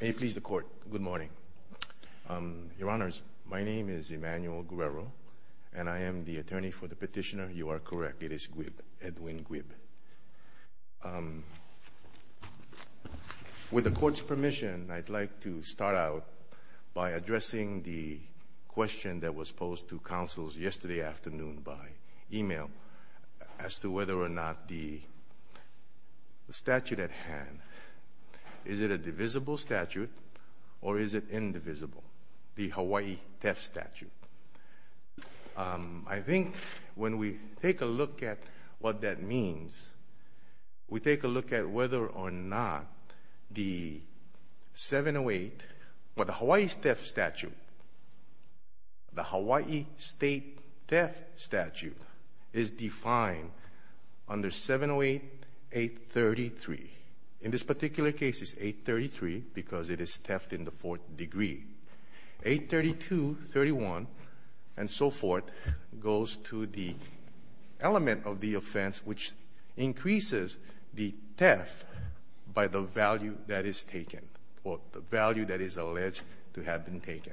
May it please the Court, good morning. Your Honors, my name is Emmanuel Guerrero, and I am the attorney for the petitioner, you are correct, it is Guieb, Edwin Guieb. With the Court's permission, I'd like to start out by addressing the question that was posed to counsels yesterday afternoon by email as to whether or not the statute at hand, is it a divisible statute or is it indivisible, the Hawaii Theft Statute. I think when we take a look at what that means, we take a look at whether or not the 708, well the Hawaii Theft Statute, the Hawaii State Theft Statute is defined under 708.833. In this particular case it's 833 because it is theft in the fourth degree. 832, 31, and so forth, goes to the element of the offense which increases the theft by the value that is taken, or the value that is alleged to have been taken.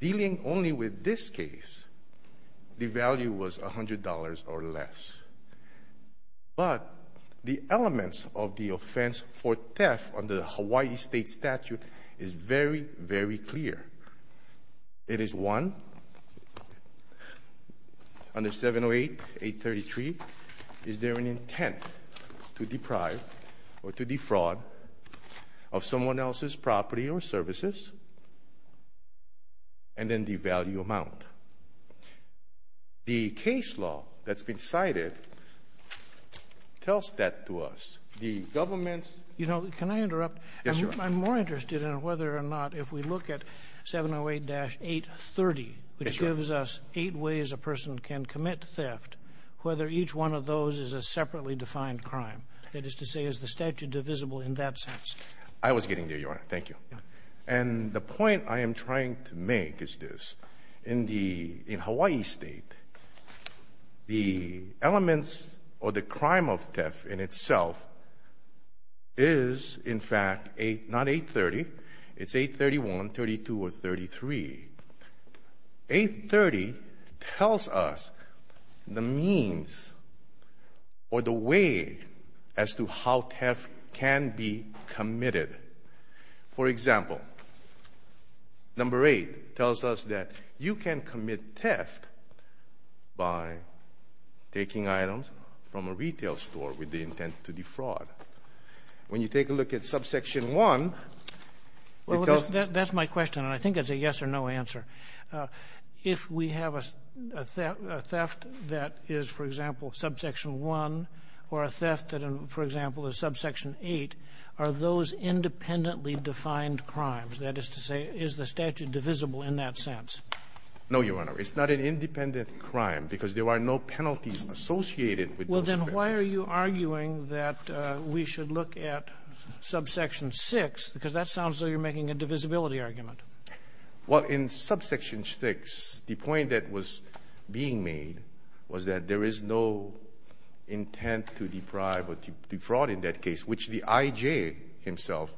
Dealing only with this case, the value was $100 or less. But the elements of the offense for theft under the Hawaii State Statute is very, very clear. It is one, under 708.833, is there an intent to deprive or to defraud of someone else's property or services, and then the value amount. The case law that's been cited tells that to us. The government's ---- You know, can I interrupt? Yes, Your Honor. I'm more interested in whether or not, if we look at 708-830, which gives us eight ways a person can commit theft, whether each one of those is a separately defined crime. That is to say, is the statute divisible in that sense? I was getting there, Your Honor. Thank you. Yeah. And the point I am trying to make is this. In the ---- in Hawaii State, the elements or the crime of theft in itself is, in fact, a ---- not 830, it's 831, 32, or 33. 830 tells us the means or the way as to how theft can be committed. For example, number 8 tells us that you can commit theft by taking items from a retail store with the intent to defraud. When you take a look at subsection 1, it tells ---- That's my question, and I think it's a yes-or-no answer. If we have a theft that is, for example, subsection 1 or a theft that, for example, is subsection 8, are those independently defined crimes? That is to say, is the statute divisible in that sense? No, Your Honor. It's not an independent crime because there are no penalties associated with those offenses. Well, then why are you arguing that we should look at subsection 6, because that is a divisibility argument. Well, in subsection 6, the point that was being made was that there is no intent to deprive or to defraud in that case, which the IJ himself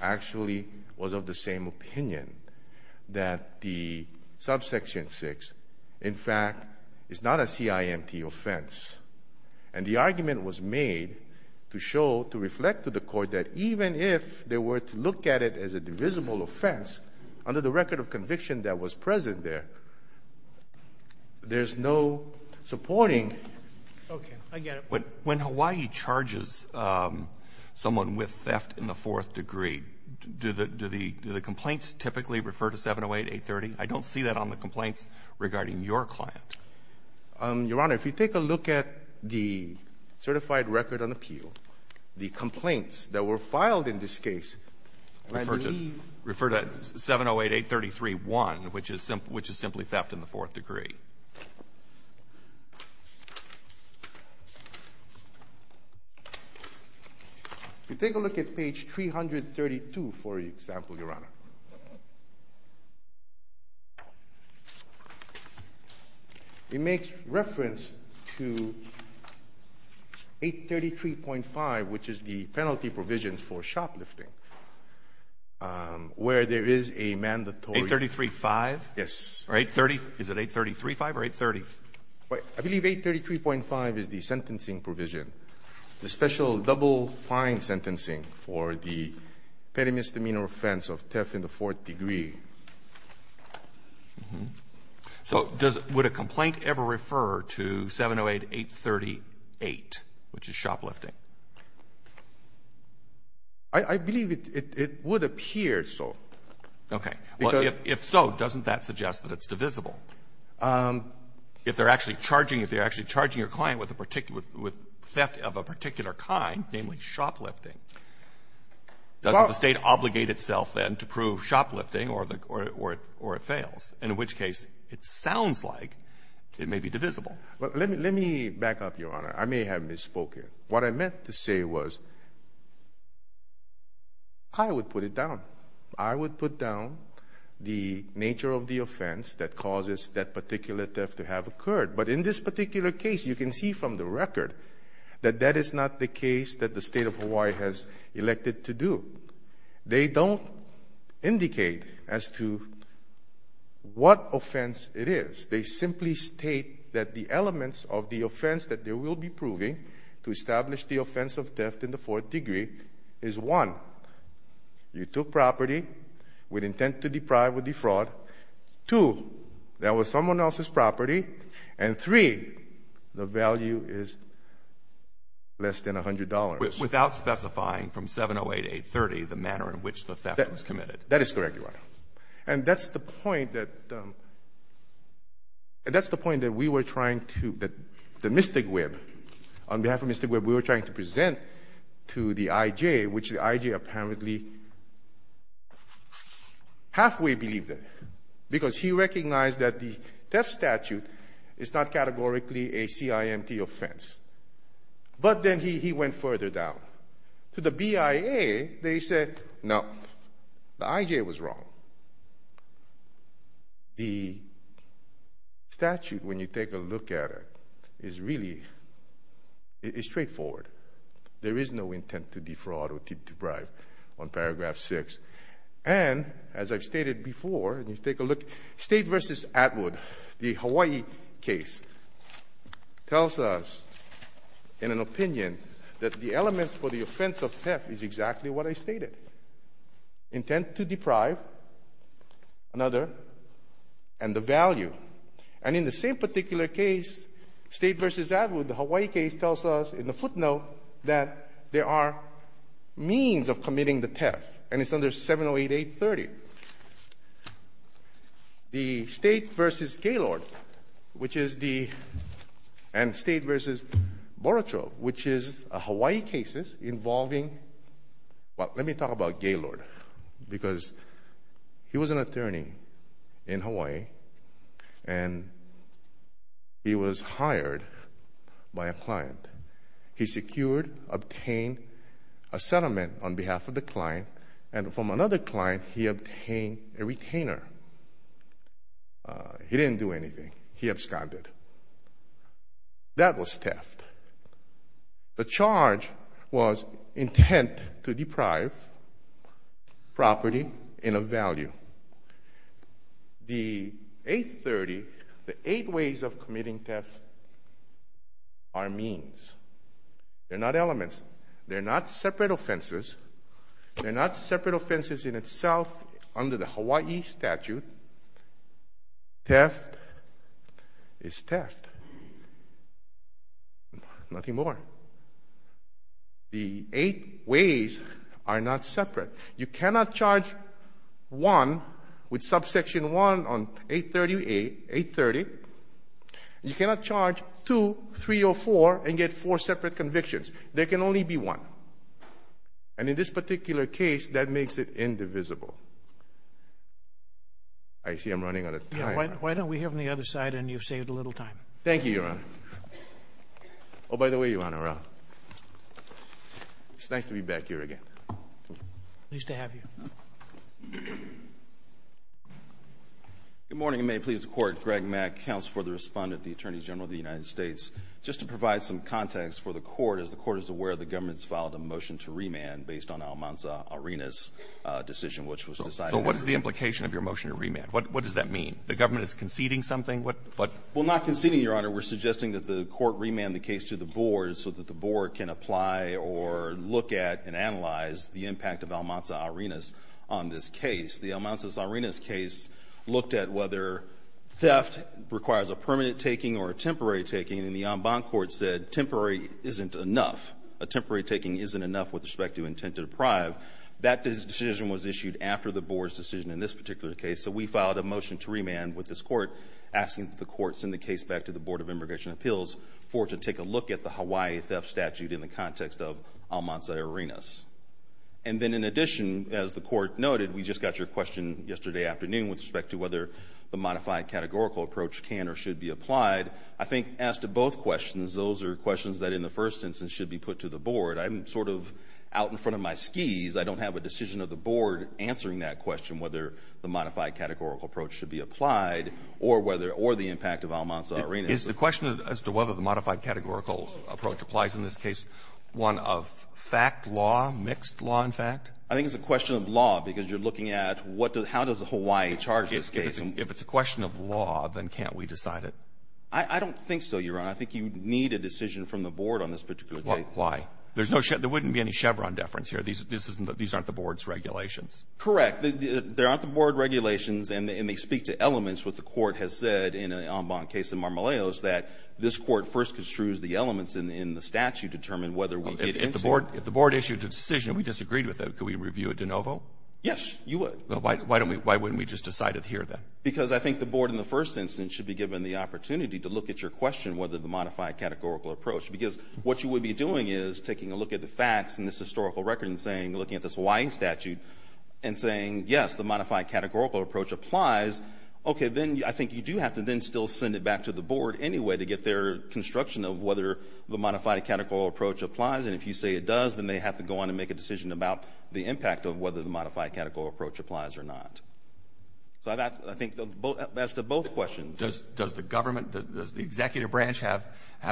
actually was of the same opinion, that the subsection 6, in fact, is not a CIMT offense. And the argument was made to show, to reflect to the Court that even if they were to look at it as a divisible offense, under the record of conviction that was present there, there's no supporting ---- Okay. I get it. But when Hawaii charges someone with theft in the fourth degree, do the ---- do the complaints typically refer to 708-830? I don't see that on the complaints regarding your client. Your Honor, if you take a look at the certified record on appeal, the complaints that were filed in this case refer to ---- Refer to 708-833-1, which is simply theft in the fourth degree. If you take a look at page 332, for example, Your Honor, it makes reference to 833.5, which is the penalty provisions for shoplifting, where there is a mandatory ---- 833.5? Yes. Or 830? Is it 833.5 or 830? I believe 833.5 is the sentencing provision, the special double fine sentencing for the petty misdemeanor offense of theft in the fourth degree. So does ---- would a complaint ever refer to 708-838, which is shoplifting? I believe it would appear so. Okay. Because ---- Well, if so, doesn't that suggest that it's divisible? If they're actually charging your client with a particular ---- with theft of a particular kind, namely shoplifting, doesn't the State obligate itself then to prove shoplifting or the ---- or it fails, in which case it sounds like it may be divisible? Let me back up, Your Honor. I may have misspoken. What I meant to say was I would put it down. I would put down the nature of the offense that causes that particular theft to have occurred. But in this particular case, you can see from the record that that is not the case that the State of Hawaii has elected to do. They don't indicate as to what offense it is. They simply state that the elements of the offense that they will be proving to establish the offense of theft in the fourth degree is, one, you took property with intent to deprive or defraud, two, that was someone else's property, and, three, the value is less than $100. Without specifying from 708-830 the manner in which the theft was committed. That is correct, Your Honor. And that's the point that we were trying to ---- the Mystic Web, on behalf of Mystic Web, we were trying to present to the I.J., which the I.J. apparently halfway believed it, because he recognized that the theft statute is not categorically a CIMT offense. But then he went further down. To the BIA, they said, no, the I.J. was wrong. The statute, when you take a look at it, is really ---- it's straightforward. There is no intent to defraud or to deprive on paragraph 6. And, as I've stated before, and you take a look, State v. Atwood, the Hawaii case, tells us, in an opinion, that the elements for the offense of theft is exactly what I stated, intent to deprive another, and the value. And in the same particular case, State v. Atwood, the Hawaii case, tells us, in the footnote, that there are means of committing the theft, and it's under 708-830. The State v. Gaylord, which is the ---- and State v. Boracho, which is a Hawaii case involving ---- well, let me talk about Gaylord, because he was an attorney in Hawaii, and he was hired by a client. He secured, obtained a settlement on behalf of the client, and from another client, he obtained a retainer. He didn't do anything. He absconded. That was theft. The charge was intent to deprive property in a value. The 830, the eight ways of committing theft, are means. They're not elements. They're not separate offenses. They're not separate offenses in itself under the Hawaii statute. Theft is theft. Nothing more. The eight ways are not separate. You cannot charge one with Subsection 1 on 830-830. You cannot charge two, three, or four, and get four separate convictions. There can only be one, and in this particular case, that makes it indivisible. I see I'm running out of time. Why don't we hear from the other side, and you've saved a little time. Thank you, Your Honor. Oh, by the way, Your Honor, it's nice to be back here again. Pleased to have you. Good morning, and may it please the Court, Greg Mack, Counsel for the Respondent, the Attorney General of the United States, just to provide some context for the Court. As the Court is aware, the government has filed a motion to remand based on Almanza-Arenas' decision, which was decided at the time. So what's the implication of your motion to remand? What does that mean? The government is conceding something? Well, not conceding, Your Honor. We're suggesting that the Court remand the case to the Board so that the Board can apply or look at and analyze the impact of Almanza-Arenas on this case. The Almanza-Arenas case looked at whether theft requires a permanent taking or a temporary taking, and the en banc Court said temporary isn't enough. A temporary taking isn't enough with respect to intent to deprive. That decision was issued after the Board's decision in this particular case, so we filed a motion to remand with this Court, asking that the Court send the case back to the Board of Immigration Appeals for it to take a look at the Hawaii theft statute in the context of Almanza-Arenas. And then in addition, as the Court noted, we just got your question yesterday afternoon with respect to whether the modified categorical approach can or should be applied. I think as to both questions, those are questions that in the first instance should be put to the Board. I'm sort of out in front of my skis. I don't have a decision of the Board answering that question, whether the modified categorical approach should be applied or whether or the impact of Almanza-Arenas. Is the question as to whether the modified categorical approach applies in this case one of fact, law, mixed law and fact? I think it's a question of law, because you're looking at what does the Hawaii charge this case. If it's a question of law, then can't we decide it? I don't think so, Your Honor. I think you need a decision from the Board on this particular case. Why? There's no Chevron – there wouldn't be any Chevron deference here. These aren't the Board's regulations. Correct. They aren't the Board regulations, and they speak to elements, what the Court has said in the Ambon case in Marmolejos, that this Court first construes the elements in the statute to determine whether we get into it. If the Board issued a decision and we disagreed with it, could we review it de novo? Yes, you would. Why wouldn't we just decide it here, then? Because I think the Board, in the first instance, should be given the opportunity to look at your question, whether the modified categorical approach – because what you would be doing is taking a look at the facts in this historical record and looking at this Hawaii statute and saying, yes, the modified categorical approach applies. Okay, then I think you do have to then still send it back to the Board anyway to get their construction of whether the modified categorical approach applies. And if you say it does, then they have to go on and make a decision about the impact of whether the modified categorical approach applies or not. So I think that's to both questions. Does the government, does the executive branch have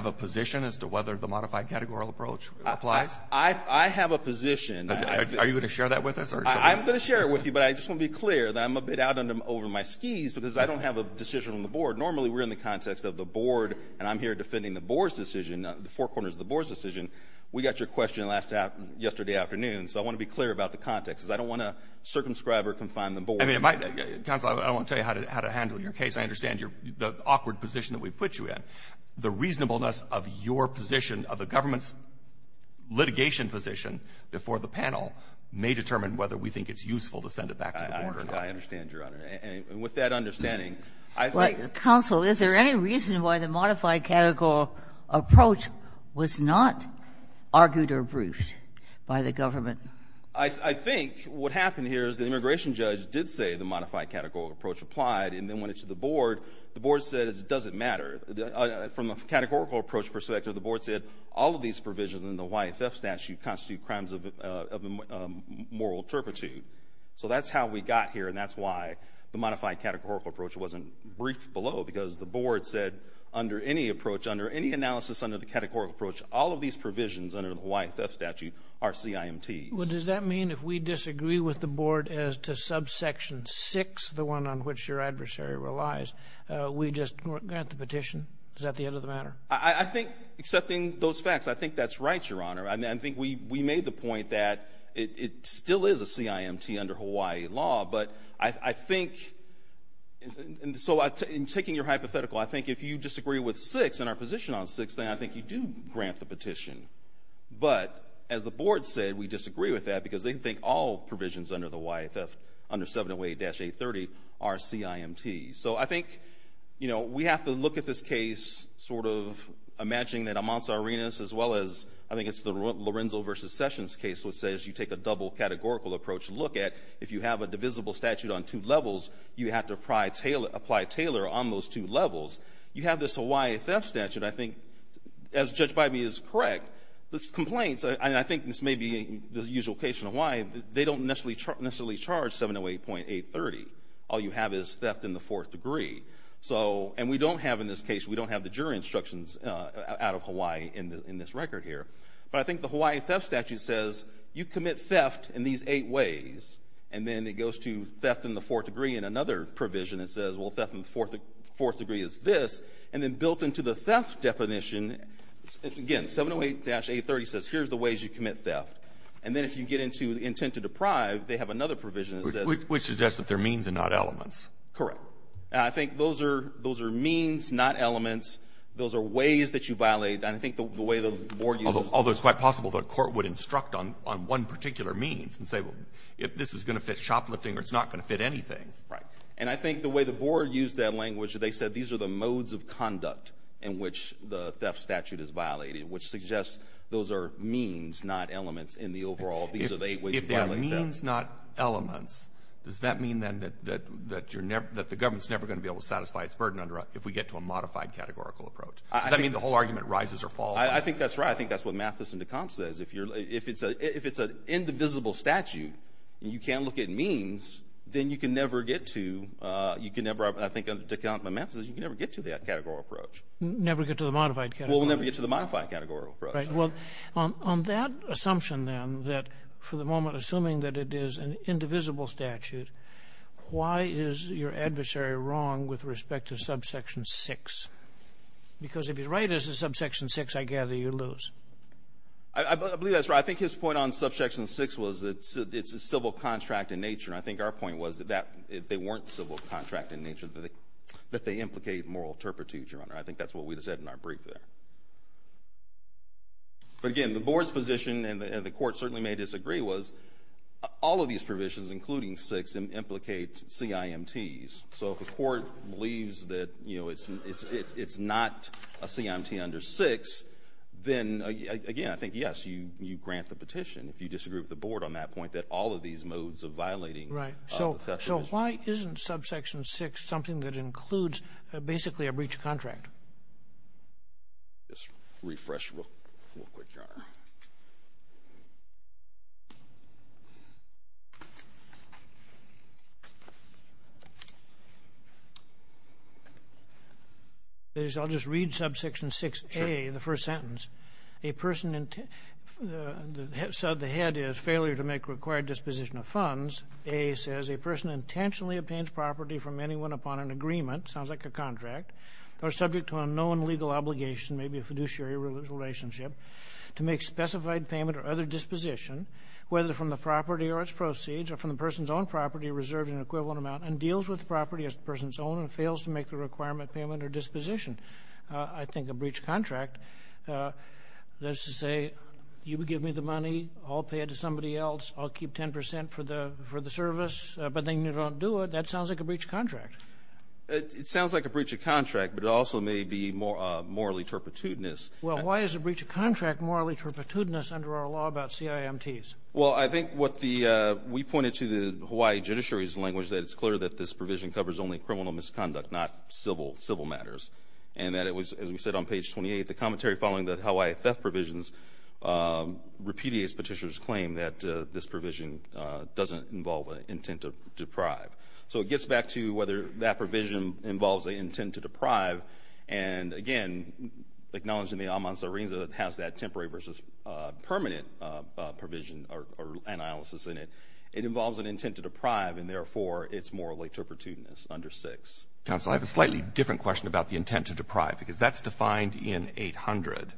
a position as to whether the modified categorical approach applies? I have a position. Are you going to share that with us? I'm going to share it with you, but I just want to be clear that I'm a bit out over my skis because I don't have a decision on the Board. Normally we're in the context of the Board, and I'm here defending the Board's decision, the four corners of the Board's decision. We got your question yesterday afternoon, so I want to be clear about the context. I don't want to circumscribe or confine the Board. I mean, it might be. Counsel, I don't want to tell you how to handle your case. I understand the awkward position that we've put you in. The reasonableness of your position, of the government's litigation position before the panel may determine whether we think it's useful to send it back to the Board or not. I understand, Your Honor. And with that understanding, I think the Board has a position. Counsel, is there any reason why the modified categorical approach was not argued or briefed by the government? I think what happened here is the immigration judge did say the modified categorical approach applied and then went to the Board. The Board said it doesn't matter. From a categorical approach perspective, the Board said all of these provisions in the Hawaii Theft Statute constitute crimes of moral turpitude. So that's how we got here, and that's why the modified categorical approach wasn't briefed below, because the Board said under any approach, under any analysis under the categorical approach, all of these provisions under the Does that mean if we disagree with the Board as to subsection 6, the one on which your adversary relies, we just grant the petition? Is that the end of the matter? I think, accepting those facts, I think that's right, Your Honor. I think we made the point that it still is a CIMT under Hawaii law, but I think so in taking your hypothetical, I think if you disagree with 6 and our position on 6, then I think you do grant the petition. But as the Board said, we disagree with that because they think all provisions under the Hawaii Theft, under 708-830, are CIMT. So I think, you know, we have to look at this case sort of imagining that Amantza Arenas, as well as I think it's the Lorenzo v. Sessions case, which says you take a double categorical approach to look at. If you have a divisible statute on two levels, you have to apply Taylor on those two levels. You have this Hawaii Theft Statute. I think, as Judge Bybee is correct, the complaints, and I think this may be the usual case in Hawaii, they don't necessarily charge 708.830. All you have is theft in the fourth degree. And we don't have in this case, we don't have the jury instructions out of Hawaii in this record here. But I think the Hawaii Theft Statute says you commit theft in these eight ways, and then it goes to theft in the fourth degree in another provision that says, well, theft in the fourth degree is this. And then built into the theft definition, again, 708-830 says here's the ways you commit theft. And then if you get into intent to deprive, they have another provision that says — Which suggests that they're means and not elements. Correct. And I think those are means, not elements. Those are ways that you violate. And I think the way the Board uses — Although it's quite possible that a court would instruct on one particular means and say, well, if this is going to fit shoplifting or it's not going to fit anything. And I think the way the Board used that language, they said these are the modes of conduct in which the theft statute is violating, which suggests those are means, not elements in the overall — If they are means, not elements, does that mean then that the government's never going to be able to satisfy its burden if we get to a modified categorical approach? Does that mean the whole argument rises or falls? I think that's right. I think that's what Mathis and Decombs says. If it's an indivisible statute and you can't look at means, then you can never get to — you can never, I think, under Decombs and Mathis, you can never get to that categorical approach. Never get to the modified categorical approach. Well, we'll never get to the modified categorical approach. Right. Well, on that assumption, then, that for the moment, assuming that it is an indivisible statute, why is your adversary wrong with respect to subsection 6? Because if you're right as to subsection 6, I gather you lose. I believe that's right. I think his point on subsection 6 was that it's a civil contract in nature. And I think our point was that if they weren't civil contract in nature, that they implicate moral turpitude, Your Honor. I think that's what we said in our brief there. But, again, the Board's position, and the Court certainly may disagree, was all of these provisions, including 6, implicate CIMTs. So if the Court believes that, you know, it's not a CIMT under 6, then, again, I think, yes, you grant the petition. If you disagree with the Board on that point, that all of these modes of violating of the testament. Right. So why isn't subsection 6 something that includes basically a breach of contract? Just refresh real quick, Your Honor. I'll just read subsection 6A, the first sentence. So the head is failure to make required disposition of funds. A says a person intentionally obtains property from anyone upon an agreement, sounds like a contract, or subject to unknown legal obligation, maybe a fiduciary relationship, to make specified payment or other disposition, whether from the property or its proceeds, or from the person's own property reserved in an equivalent amount, and deals with the property as the person's own and fails to make the requirement payment or disposition. I think a breach of contract, that is to say, you give me the money, I'll pay it to somebody else, I'll keep 10 percent for the service, but then you don't do it, that sounds like a breach of contract. It sounds like a breach of contract, but it also may be morally turpitudinous. Well, why is a breach of contract morally turpitudinous under our law about CIMTs? Well, I think what the we pointed to the Hawaii judiciary's language that it's clear that this provision covers only criminal misconduct, not civil matters. And that it was, as we said on page 28, the commentary following the Hawaii theft provisions repudiates Petitioner's claim that this provision doesn't involve an intent to deprive. So it gets back to whether that provision involves an intent to deprive. And, again, acknowledging the aman sa rinza that has that temporary versus permanent provision or analysis in it, it involves an intent to deprive, and therefore, it's morally turpitudinous under 6. Counsel, I have a slightly different question about the intent to deprive, because that's defined in 800.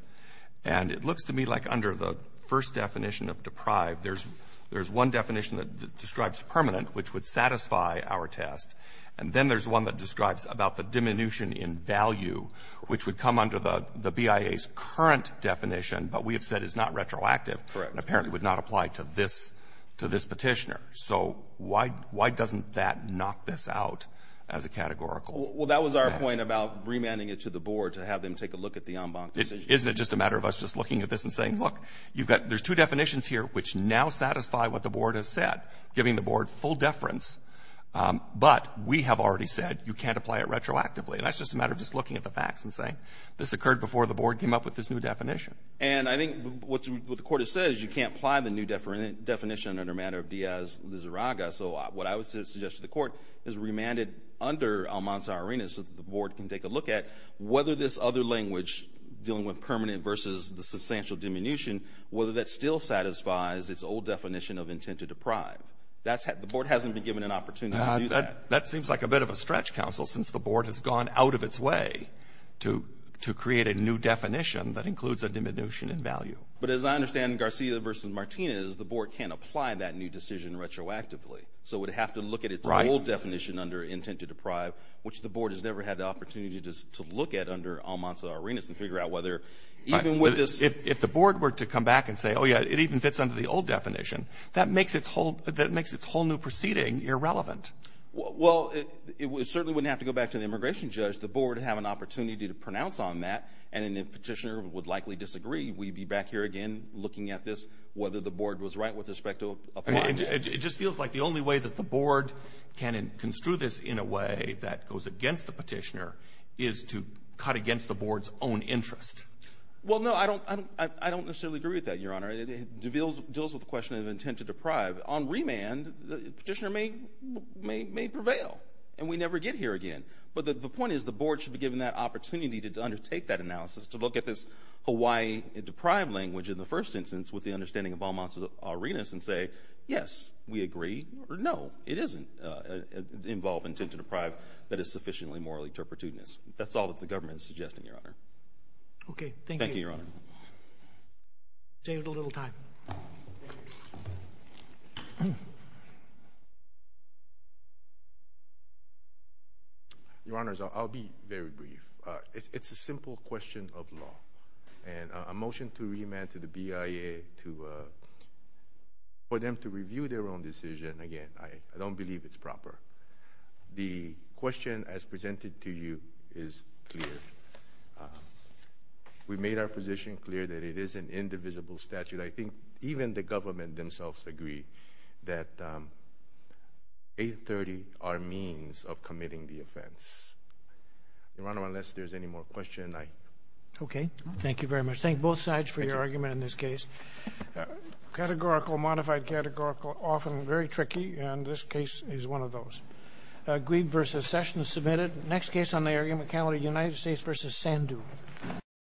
And it looks to me like under the first definition of deprive, there's one definition that describes permanent, which would satisfy our test, and then there's one that describes about the diminution in value, which would come under the BIA's current definition, but we have said is not retroactive. And apparently would not apply to this Petitioner. So why doesn't that knock this out as a categorical? Well, that was our point about remanding it to the Board to have them take a look at the en banc decision. Isn't it just a matter of us just looking at this and saying, look, there's two definitions here which now satisfy what the Board has said, giving the Board full deference, but we have already said you can't apply it retroactively. And that's just a matter of just looking at the facts and saying this occurred before the Board came up with this new definition. And I think what the Court has said is you can't apply the new definition under the matter of Diaz-Lizarraga, so what I would suggest to the Court is remand it under Almanza-Arenas so that the Board can take a look at whether this other language dealing with permanent versus the substantial diminution, whether that still satisfies its old definition of intent to deprive. The Board hasn't been given an opportunity to do that. That seems like a bit of a stretch, Counsel, since the Board has gone out of its way to create a new definition that includes a diminution in value. But as I understand, Garcia versus Martinez, the Board can't apply that new decision retroactively, so it would have to look at its old definition under intent to deprive, which the Board has never had the opportunity to look at under Almanza-Arenas and figure out whether even with this. If the Board were to come back and say, oh, yeah, it even fits under the old definition, that makes its whole new proceeding irrelevant. Well, it certainly wouldn't have to go back to the immigration judge. The Board would have an opportunity to pronounce on that, and the petitioner would likely disagree. We'd be back here again looking at this, whether the Board was right with respect to applying it. It just feels like the only way that the Board can construe this in a way that goes against the petitioner is to cut against the Board's own interest. Well, no, I don't necessarily agree with that, Your Honor. It deals with the question of intent to deprive. On remand, the petitioner may prevail, and we never get here again. But the point is the Board should be given that opportunity to undertake that analysis, to look at this Hawaii deprive language in the first instance with the understanding of Almanza-Arenas and say, yes, we agree, or no, it doesn't involve intent to deprive that is sufficiently morally turpitudinous. That's all that the government is suggesting, Your Honor. Okay, thank you. Thank you, Your Honor. We saved a little time. Your Honors, I'll be very brief. It's a simple question of law. And a motion to remand to the BIA for them to review their own decision, again, I don't believe it's proper. The question as presented to you is clear. We've made our position clear that it is an indivisible statute. I think even the government themselves agree that 830 are means of committing the offense. Your Honor, unless there's any more questions, I... Okay, thank you very much. Thank both sides for your argument in this case. Categorical, modified categorical, often very tricky, and this case is one of those. Agreed versus session is submitted. Next case on the argument calendar, United States v. Sandhu.